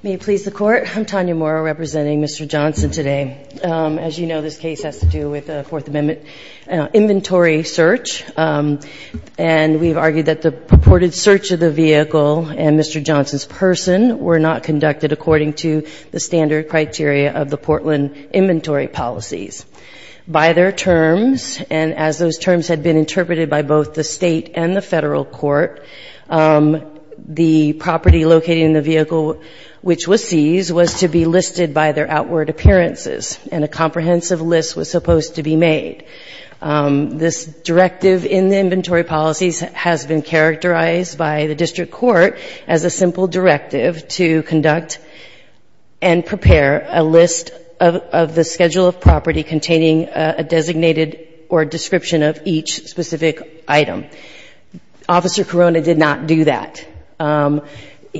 May it please the Court, I'm Tanya Morrow, representing Mr. Johnson today. As you know, this case has to do with the Fourth Amendment inventory search. And we've argued that the purported search of the vehicle and Mr. Johnson's person were not conducted according to the standard criteria of the Portland inventory policies. By their terms, and as those terms had been interpreted by both the state and the federal court, the property located in the vehicle which was seized was to be listed by their outward appearances. And a comprehensive list was supposed to be made. This directive in the inventory policies has been characterized by the district court as a simple directive to conduct and prepare a list of the schedule of property containing a designated or description of each specific item. Officer Corona did not do that.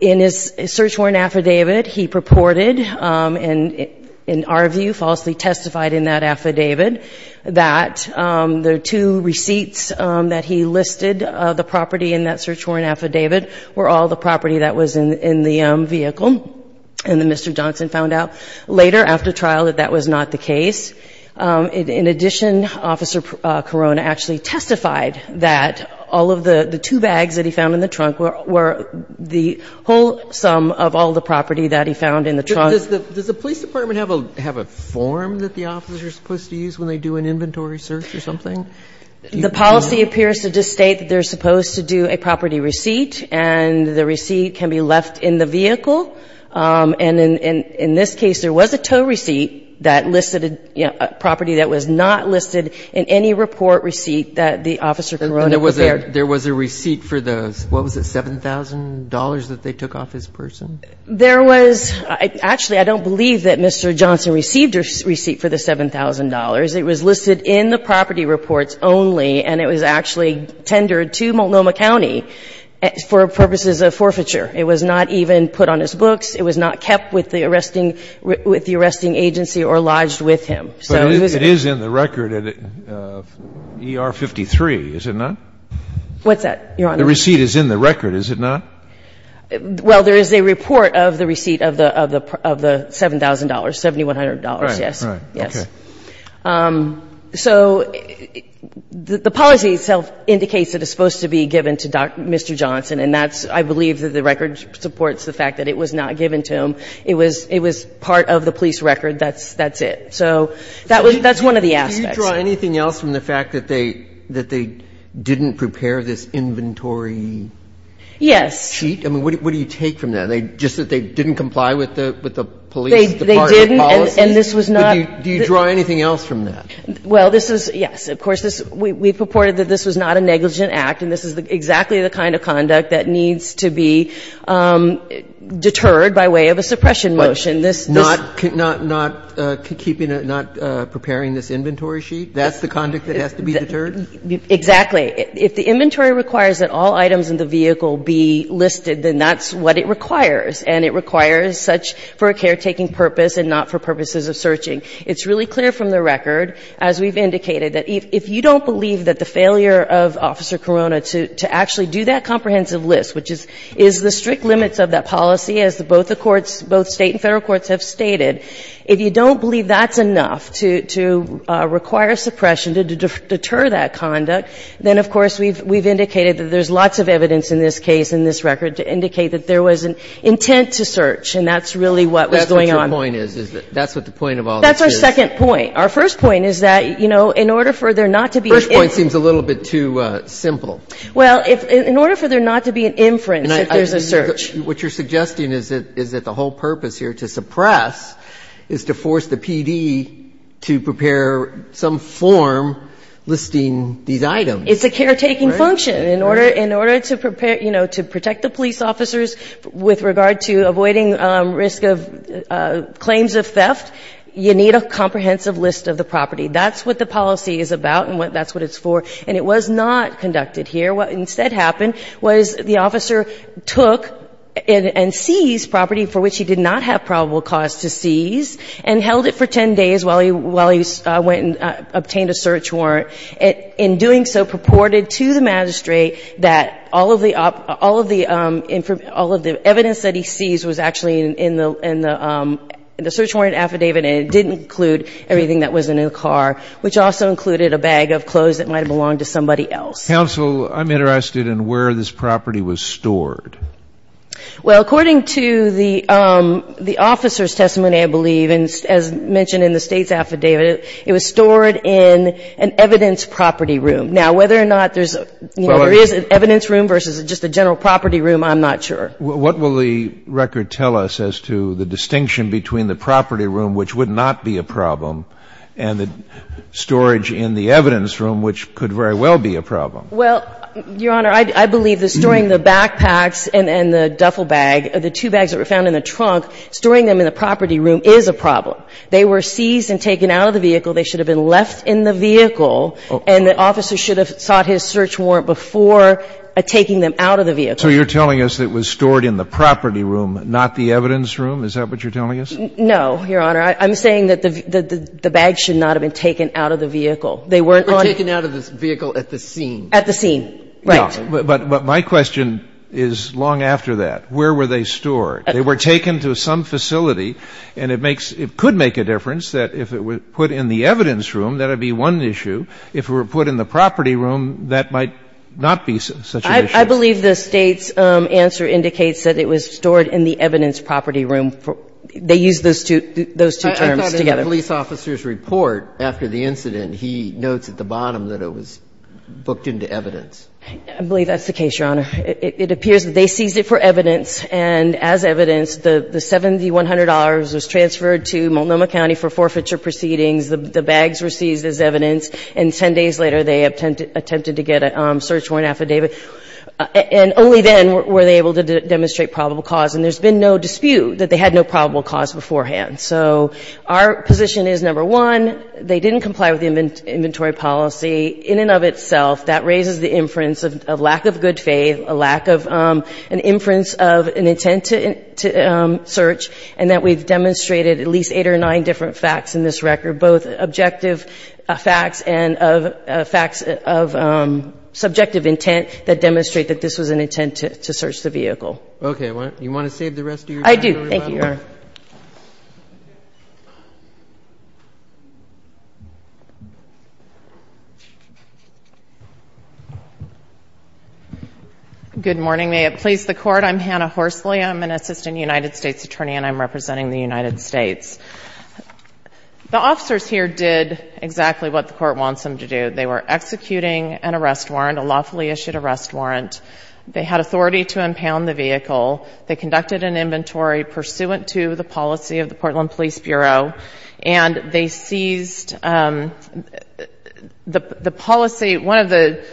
In his search warrant affidavit, he purported, in our view, falsely testified in that affidavit that the two receipts that he listed of the property in that search warrant affidavit were all the property that was in the vehicle. And then Mr. Johnson found out later after trial that that was not the case. In addition, Officer Corona actually testified that all of the two bags that he found in the trunk were the whole sum of all the property that he found in the trunk. Does the police department have a form that the officers are supposed to use when they do an inventory search or something? The policy appears to just state that they're supposed to do a property receipt And in this case, there was a tow receipt that listed a property that was not listed in any report receipt that the Officer Corona prepared. And there was a receipt for those. What was it, $7,000 that they took off his person? There was actually, I don't believe that Mr. Johnson received a receipt for the $7,000. It was listed in the property reports only, and it was actually tendered to Multnomah County for purposes of forfeiture. It was not even put on his books. It was not kept with the arresting agency or lodged with him. But it is in the record at ER 53, is it not? What's that, Your Honor? The receipt is in the record, is it not? Well, there is a report of the receipt of the $7,000, $7,100, yes. Right, right. Okay. So the policy itself indicates that it's supposed to be given to Mr. Johnson, and that's, I believe, that the record supports the fact that it was not given to him. It was part of the police record. That's it. So that's one of the aspects. Do you draw anything else from the fact that they didn't prepare this inventory cheat? Yes. I mean, what do you take from that? Just that they didn't comply with the police department policy? They didn't, and this was not. Do you draw anything else from that? Well, this is, yes. Of course, we purported that this was not a negligent act, and this is exactly the kind of conduct that needs to be deterred by way of a suppression motion. But not keeping, not preparing this inventory cheat? That's the conduct that has to be deterred? Exactly. If the inventory requires that all items in the vehicle be listed, then that's what it requires, and it requires such for a caretaking purpose and not for purposes of searching. It's really clear from the record, as we've indicated, that if you don't believe that the failure of Officer Corona to actually do that comprehensive list, which is the strict limits of that policy, as both the courts, both State and Federal courts have stated, if you don't believe that's enough to require suppression to deter that conduct, then, of course, we've indicated that there's lots of evidence in this case, in this record, to indicate that there was an intent to search, and that's really what was going on. That's what your point is? That's what the point of all this is? That's our second point. Our first point is that, you know, in order for there not to be an inference First point seems a little bit too simple. Well, in order for there not to be an inference if there's a search. What you're suggesting is that the whole purpose here to suppress is to force the PD to prepare some form listing these items. It's a caretaking function. In order to prepare, you know, to protect the police officers with regard to avoiding risk of claims of theft, you need a comprehensive list of the property. That's what the policy is about and that's what it's for. And it was not conducted here. What instead happened was the officer took and seized property for which he did not have probable cause to seize and held it for 10 days while he went and obtained a search warrant. In doing so, purported to the magistrate that all of the evidence that he seized was actually in the search warrant affidavit and it didn't include everything that was in the car, which also included a bag of clothes that might have belonged to somebody else. Counsel, I'm interested in where this property was stored. Well, according to the officer's testimony, I believe, and as mentioned in the State's affidavit, it was stored in an evidence property room. Now, whether or not there's, you know, there is an evidence room versus just a general property room, I'm not sure. What will the record tell us as to the distinction between the property room, which would not be a problem, and the storage in the evidence room, which could very well be a problem? Well, Your Honor, I believe that storing the backpacks and the duffel bag, the two bags that were found in the trunk, storing them in the property room is a problem. They were seized and taken out of the vehicle. They should have been left in the vehicle, and the officer should have sought his search warrant before taking them out of the vehicle. So you're telling us it was stored in the property room, not the evidence room? Is that what you're telling us? No, Your Honor. I'm saying that the bags should not have been taken out of the vehicle. They weren't on the vehicle. They were taken out of the vehicle at the scene. At the scene, right. But my question is long after that. Where were they stored? They were taken to some facility, and it makes – it could make a difference that if it were put in the evidence room, that would be one issue. If it were put in the property room, that might not be such an issue. I believe the State's answer indicates that it was stored in the evidence property room. They used those two terms together. I thought in the police officer's report after the incident, he notes at the bottom that it was booked into evidence. I believe that's the case, Your Honor. It appears that they seized it for evidence, and as evidence, the $7,100 was transferred to Multnomah County for forfeiture proceedings. The bags were seized as evidence, and 10 days later, they attempted to get a search warrant affidavit, and only then were they able to demonstrate probable cause. And there's been no dispute that they had no probable cause beforehand. So our position is, number one, they didn't comply with the inventory policy. In and of itself, that raises the inference of lack of good faith, a lack of an inference of an intent to search, and that we've demonstrated at least eight or nine different cases in this record, both objective facts and facts of subjective intent that demonstrate that this was an intent to search the vehicle. Okay. You want to save the rest of your time? I do. Thank you, Your Honor. Good morning. May it please the Court. I'm Hannah Horsley. I'm an assistant United States attorney, and I'm representing the United States. The officers here did exactly what the Court wants them to do. They were executing an arrest warrant, a lawfully issued arrest warrant. They had authority to impound the vehicle. They conducted an inventory pursuant to the policy of the Portland Police Bureau, and they seized the policy. One of the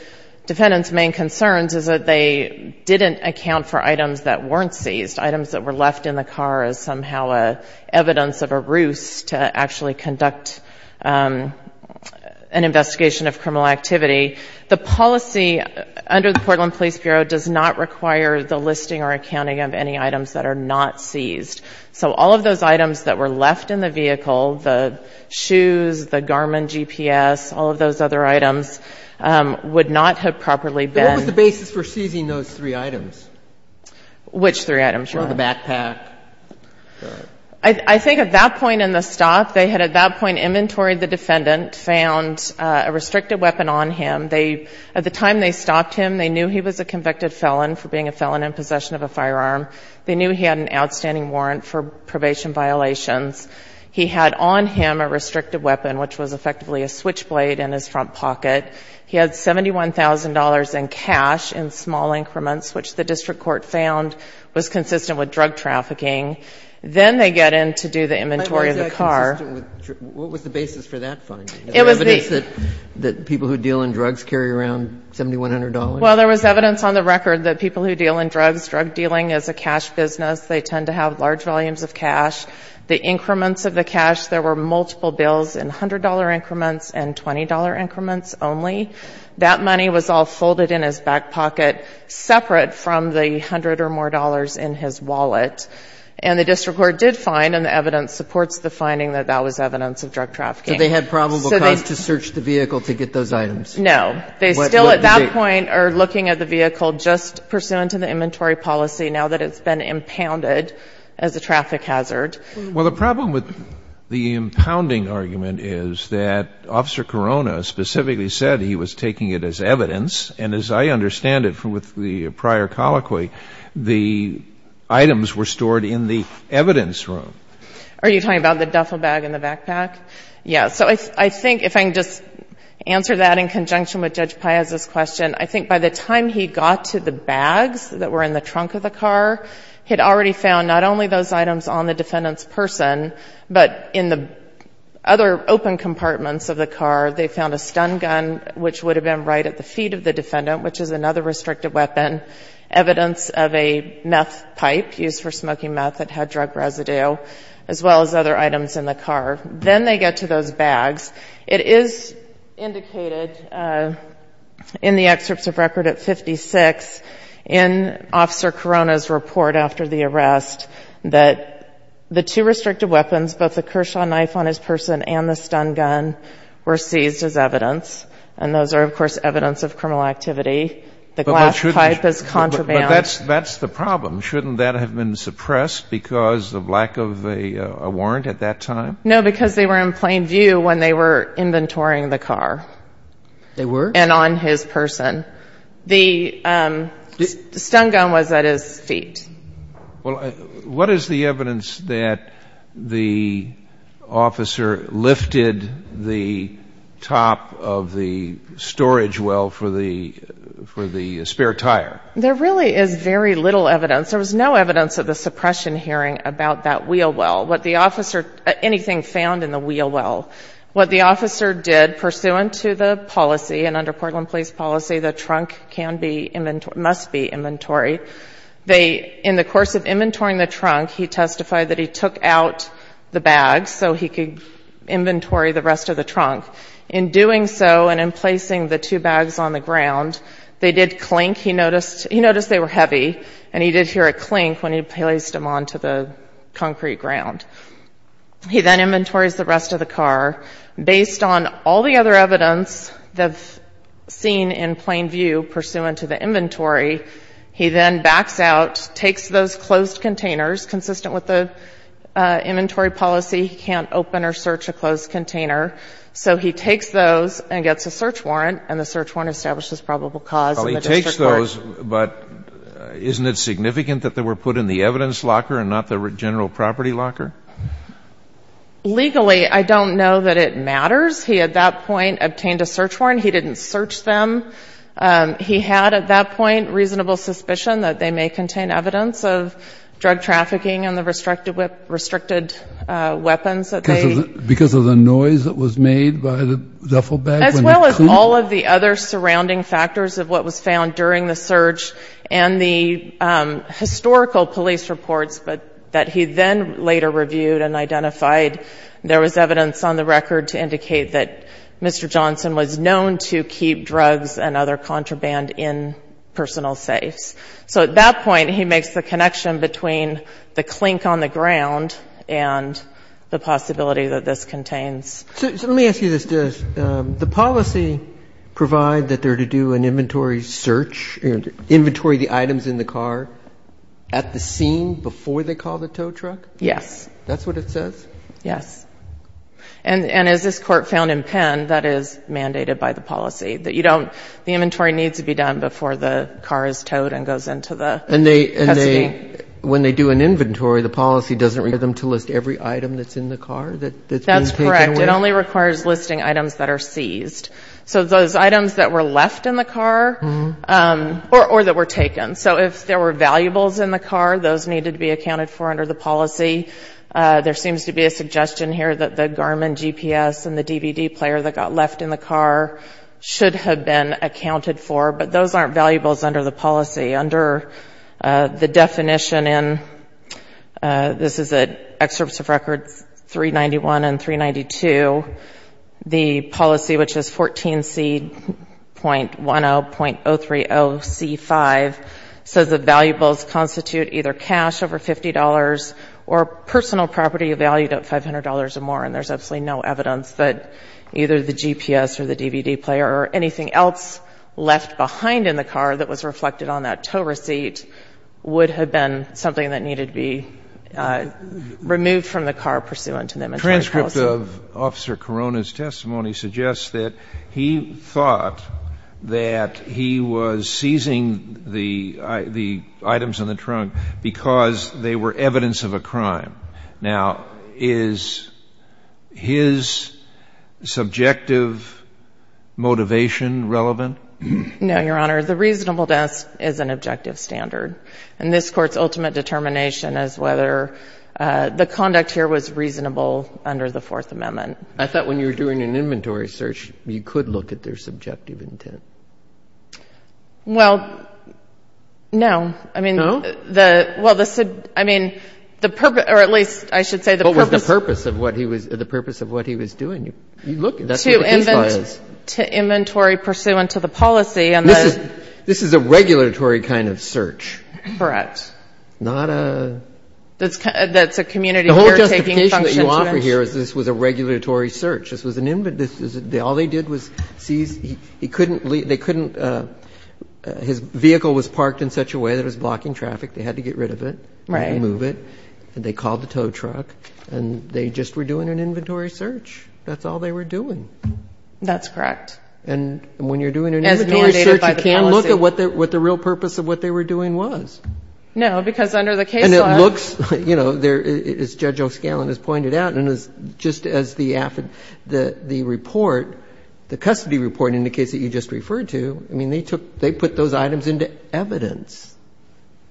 defendant's main concerns is that they didn't account for items that weren't seized, items that were left in the car as somehow evidence of a ruse to actually conduct an investigation of criminal activity. The policy under the Portland Police Bureau does not require the listing or accounting of any items that are not seized. So all of those items that were left in the vehicle, the shoes, the Garmin GPS, all of those other items, would not have properly been. What was the basis for seizing those three items? Which three items? The backpack. I think at that point in the stop, they had at that point inventoried the defendant, found a restricted weapon on him. At the time they stopped him, they knew he was a convicted felon for being a felon in possession of a firearm. They knew he had an outstanding warrant for probation violations. He had on him a restricted weapon, which was effectively a switchblade in his front pocket. He had $71,000 in cash in small increments, which the district court found was consistent with drug trafficking. Then they get in to do the inventory of the car. What was the basis for that finding? The evidence that people who deal in drugs carry around $7,100? Well, there was evidence on the record that people who deal in drugs, drug dealing is a cash business. They tend to have large volumes of cash. The increments of the cash, there were multiple bills in $100 increments and $20 increments only. That money was all folded in his back pocket separate from the $100 or more in his wallet. And the district court did find, and the evidence supports the finding that that was evidence of drug trafficking. So they had probable cause to search the vehicle to get those items? No. They still at that point are looking at the vehicle just pursuant to the inventory policy now that it's been impounded as a traffic hazard. Well, the problem with the impounding argument is that Officer Corona specifically said he was taking it as evidence. And as I understand it from the prior colloquy, the items were stored in the evidence room. Are you talking about the duffel bag in the backpack? Yes. So I think if I can just answer that in conjunction with Judge Piazza's question, I think by the time he got to the bags that were in the trunk of the person, but in the other open compartments of the car, they found a stun gun, which would have been right at the feet of the defendant, which is another restrictive weapon, evidence of a meth pipe used for smoking meth that had drug residue, as well as other items in the car. Then they get to those bags. It is indicated in the excerpts of record at 56 in Officer Corona's report after the arrest that the two restrictive weapons, both the Kershaw knife on his person and the stun gun, were seized as evidence. And those are, of course, evidence of criminal activity. The glass pipe is contraband. But that's the problem. Shouldn't that have been suppressed because of lack of a warrant at that time? No, because they were in plain view when they were inventorying the car. They were? And on his person. The stun gun was at his feet. Well, what is the evidence that the officer lifted the top of the storage well for the spare tire? There really is very little evidence. There was no evidence of the suppression hearing about that wheel well. What the officer, anything found in the wheel well, what the officer did, was pursuant to the policy, and under Portland Police policy, the trunk must be inventory. In the course of inventorying the trunk, he testified that he took out the bags so he could inventory the rest of the trunk. In doing so and in placing the two bags on the ground, they did clink. He noticed they were heavy, and he did hear a clink when he placed them onto the concrete ground. He then inventories the rest of the car. Based on all the other evidence seen in plain view pursuant to the inventory, he then backs out, takes those closed containers, consistent with the inventory policy. He can't open or search a closed container. So he takes those and gets a search warrant, and the search warrant establishes probable cause in the district court. Well, he takes those, but isn't it significant that they were put in the evidence locker and not the general property locker? Legally, I don't know that it matters. He, at that point, obtained a search warrant. He didn't search them. He had, at that point, reasonable suspicion that they may contain evidence of drug trafficking and the restricted weapons that they used. Because of the noise that was made by the duffel bag? As well as all of the other surrounding factors of what was found during the There was evidence on the record to indicate that Mr. Johnson was known to keep drugs and other contraband in personal safes. So at that point, he makes the connection between the clink on the ground and the possibility that this contains. So let me ask you this, Jess. The policy provide that they're to do an inventory search, inventory the items in the car at the scene before they call the tow truck? Yes. That's what it says? Yes. And as this court found in Penn, that is mandated by the policy. The inventory needs to be done before the car is towed and goes into the custody. And when they do an inventory, the policy doesn't require them to list every item that's in the car that's been taken? That's correct. It only requires listing items that are seized. So those items that were left in the car or that were taken. So if there were valuables in the car, those needed to be accounted for under the policy. There seems to be a suggestion here that the Garmin GPS and the DVD player that got left in the car should have been accounted for. But those aren't valuables under the policy. Under the definition, and this is at Excerpts of Records 391 and 392, the policy, which is 14C.10.030C5, says the valuables constitute either cash over $50 or personal property valued at $500 or more. And there's absolutely no evidence that either the GPS or the DVD player or anything else left behind in the car that was reflected on that tow receipt would have been something that needed to be removed from the car pursuant to the inventory policy. The text of Officer Corona's testimony suggests that he thought that he was seizing the items in the trunk because they were evidence of a crime. Now, is his subjective motivation relevant? No, Your Honor. The reasonable desk is an objective standard. And this Court's ultimate determination is whether the conduct here was reasonable under the Fourth Amendment. I thought when you were doing an inventory search, you could look at their subjective intent. Well, no. No? I mean, the purpose, or at least I should say the purpose. What was the purpose of what he was doing? To inventory pursuant to the policy. This is a regulatory kind of search. Correct. Not a... That's a community caretaking function. The only thing that you offer here is this was a regulatory search. This was an inventory. All they did was seize. He couldn't leave. They couldn't. His vehicle was parked in such a way that it was blocking traffic. They had to get rid of it. Right. Remove it. And they called the tow truck. And they just were doing an inventory search. That's all they were doing. That's correct. And when you're doing an inventory search, you can't look at what the real purpose of what they were doing was. No, because under the case law... And it looks, you know, as Judge O'Scallen has pointed out, and just as the report, the custody report in the case that you just referred to, I mean, they put those items into evidence.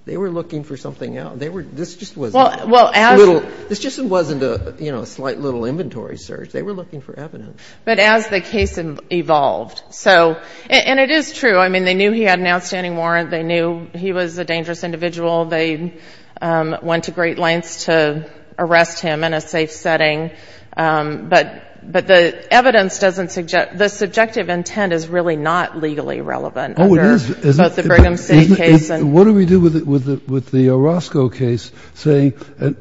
They were looking for something else. This just wasn't a little, this just wasn't a slight little inventory search. They were looking for evidence. But as the case evolved, so, and it is true. I mean, they knew he had an outstanding warrant. They knew he was a dangerous individual. They went to great lengths to arrest him in a safe setting. But the evidence doesn't, the subjective intent is really not legally relevant. Oh, it is. Under both the Brigham State case and... What do we do with the Orozco case saying it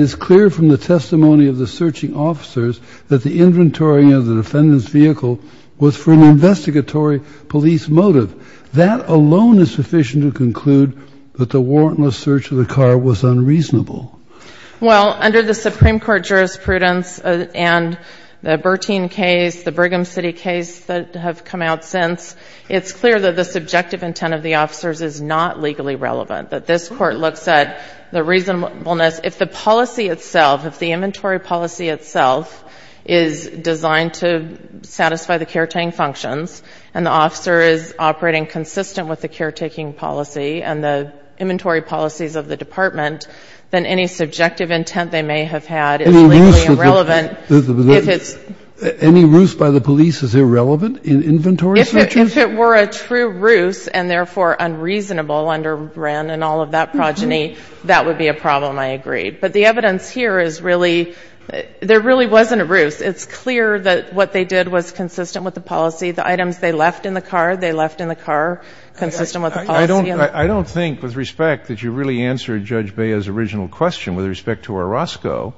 is clear from the testimony of the searching officers that the inventory of the defendant's vehicle was for an investigatory police motive. That alone is sufficient to conclude that the warrantless search of the car was unreasonable. Well, under the Supreme Court jurisprudence and the Bertine case, the Brigham City case that have come out since, it's clear that the subjective intent of the officers is not legally relevant, that this Court looks at the reasonableness. If the policy itself, if the inventory policy itself is designed to satisfy the caretaking functions and the officer is operating consistent with the caretaking policy and the inventory policies of the department, then any subjective intent they may have had is legally irrelevant. Any ruse by the police is irrelevant in inventory searches? If it were a true ruse and therefore unreasonable under Wren and all of that progeny, that would be a problem, I agree. But the evidence here is really, there really wasn't a ruse. It's clear that what they did was consistent with the policy. The items they left in the car, they left in the car consistent with the policy. I don't think, with respect, that you really answered Judge Bea's original question with respect to Orozco.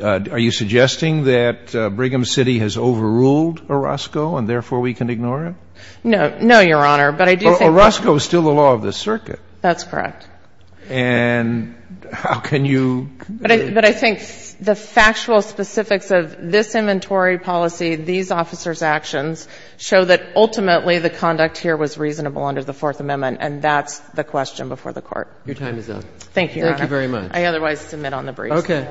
Are you suggesting that Brigham City has overruled Orozco and therefore we can ignore him? No. No, Your Honor, but I do think that Orozco is still the law of the circuit. That's correct. And how can you But I think the factual specifics of this inventory policy, these officers' actions, show that ultimately the conduct here was reasonable under the Fourth Amendment, and that's the question before the Court. Your time is up. Thank you, Your Honor. Thank you very much. I otherwise submit on the briefing. Okay.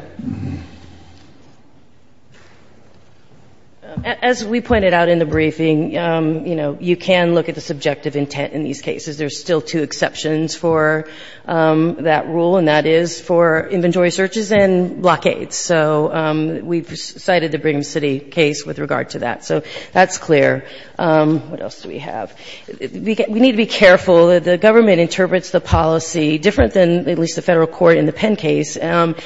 As we pointed out in the briefing, you know, you can look at the subjective intent in these cases. There's still two exceptions for that rule, and that is for inventory searches and blockades. So we've cited the Brigham City case with regard to that. So that's clear. What else do we have? We need to be careful. The government interprets the policy different than at least the Federal court in the Penn case,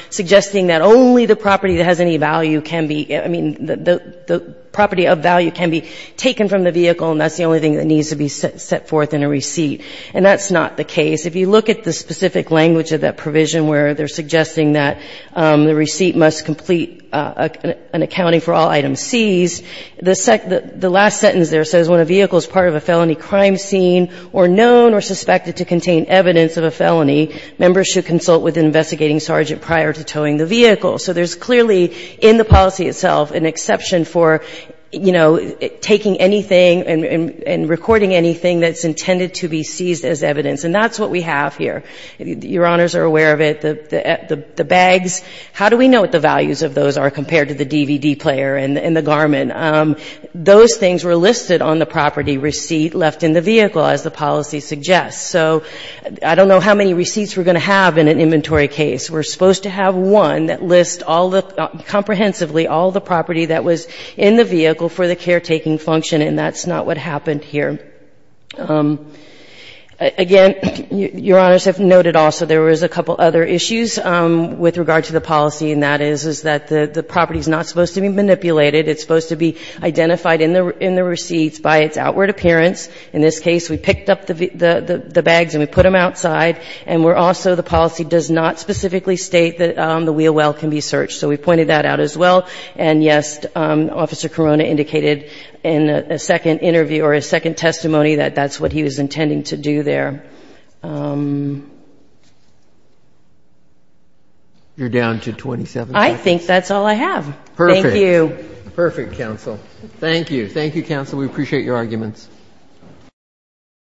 suggesting that only the property that has any value can be – I mean, the property of value can be taken from the vehicle, and that's the only thing that needs to be set forth in a receipt. And that's not the case. If you look at the specific language of that provision where they're suggesting that the receipt must complete an accounting for all items seized, the last sentence there says, when a vehicle is part of a felony crime scene or known or suspected to contain evidence of a felony, members should consult with an investigating sergeant prior to towing the vehicle. So there's clearly in the policy itself an exception for, you know, taking anything and recording anything that's intended to be seized as evidence. And that's what we have here. Your Honors are aware of it. The bags, how do we know what the values of those are compared to the DVD player and the garment? Those things were listed on the property receipt left in the vehicle, as the policy suggests. So I don't know how many receipts we're going to have in an inventory case. We're supposed to have one that lists all the – comprehensively all the property that was in the vehicle for the caretaking function, and that's not what happened here. Again, Your Honors have noted also there was a couple other issues with regard to the policy, and that is, is that the property is not supposed to be manipulated. It's supposed to be identified in the receipts by its outward appearance. In this case, we picked up the bags and we put them outside, and we're also – the policy does not specifically state that the wheel well can be searched. So we pointed that out as well. And, yes, Officer Corona indicated in a second interview or a second testimony that that's what he was intending to do there. You're down to 27 minutes. I think that's all I have. Perfect. Thank you. Perfect, counsel. Thank you. Thank you, counsel.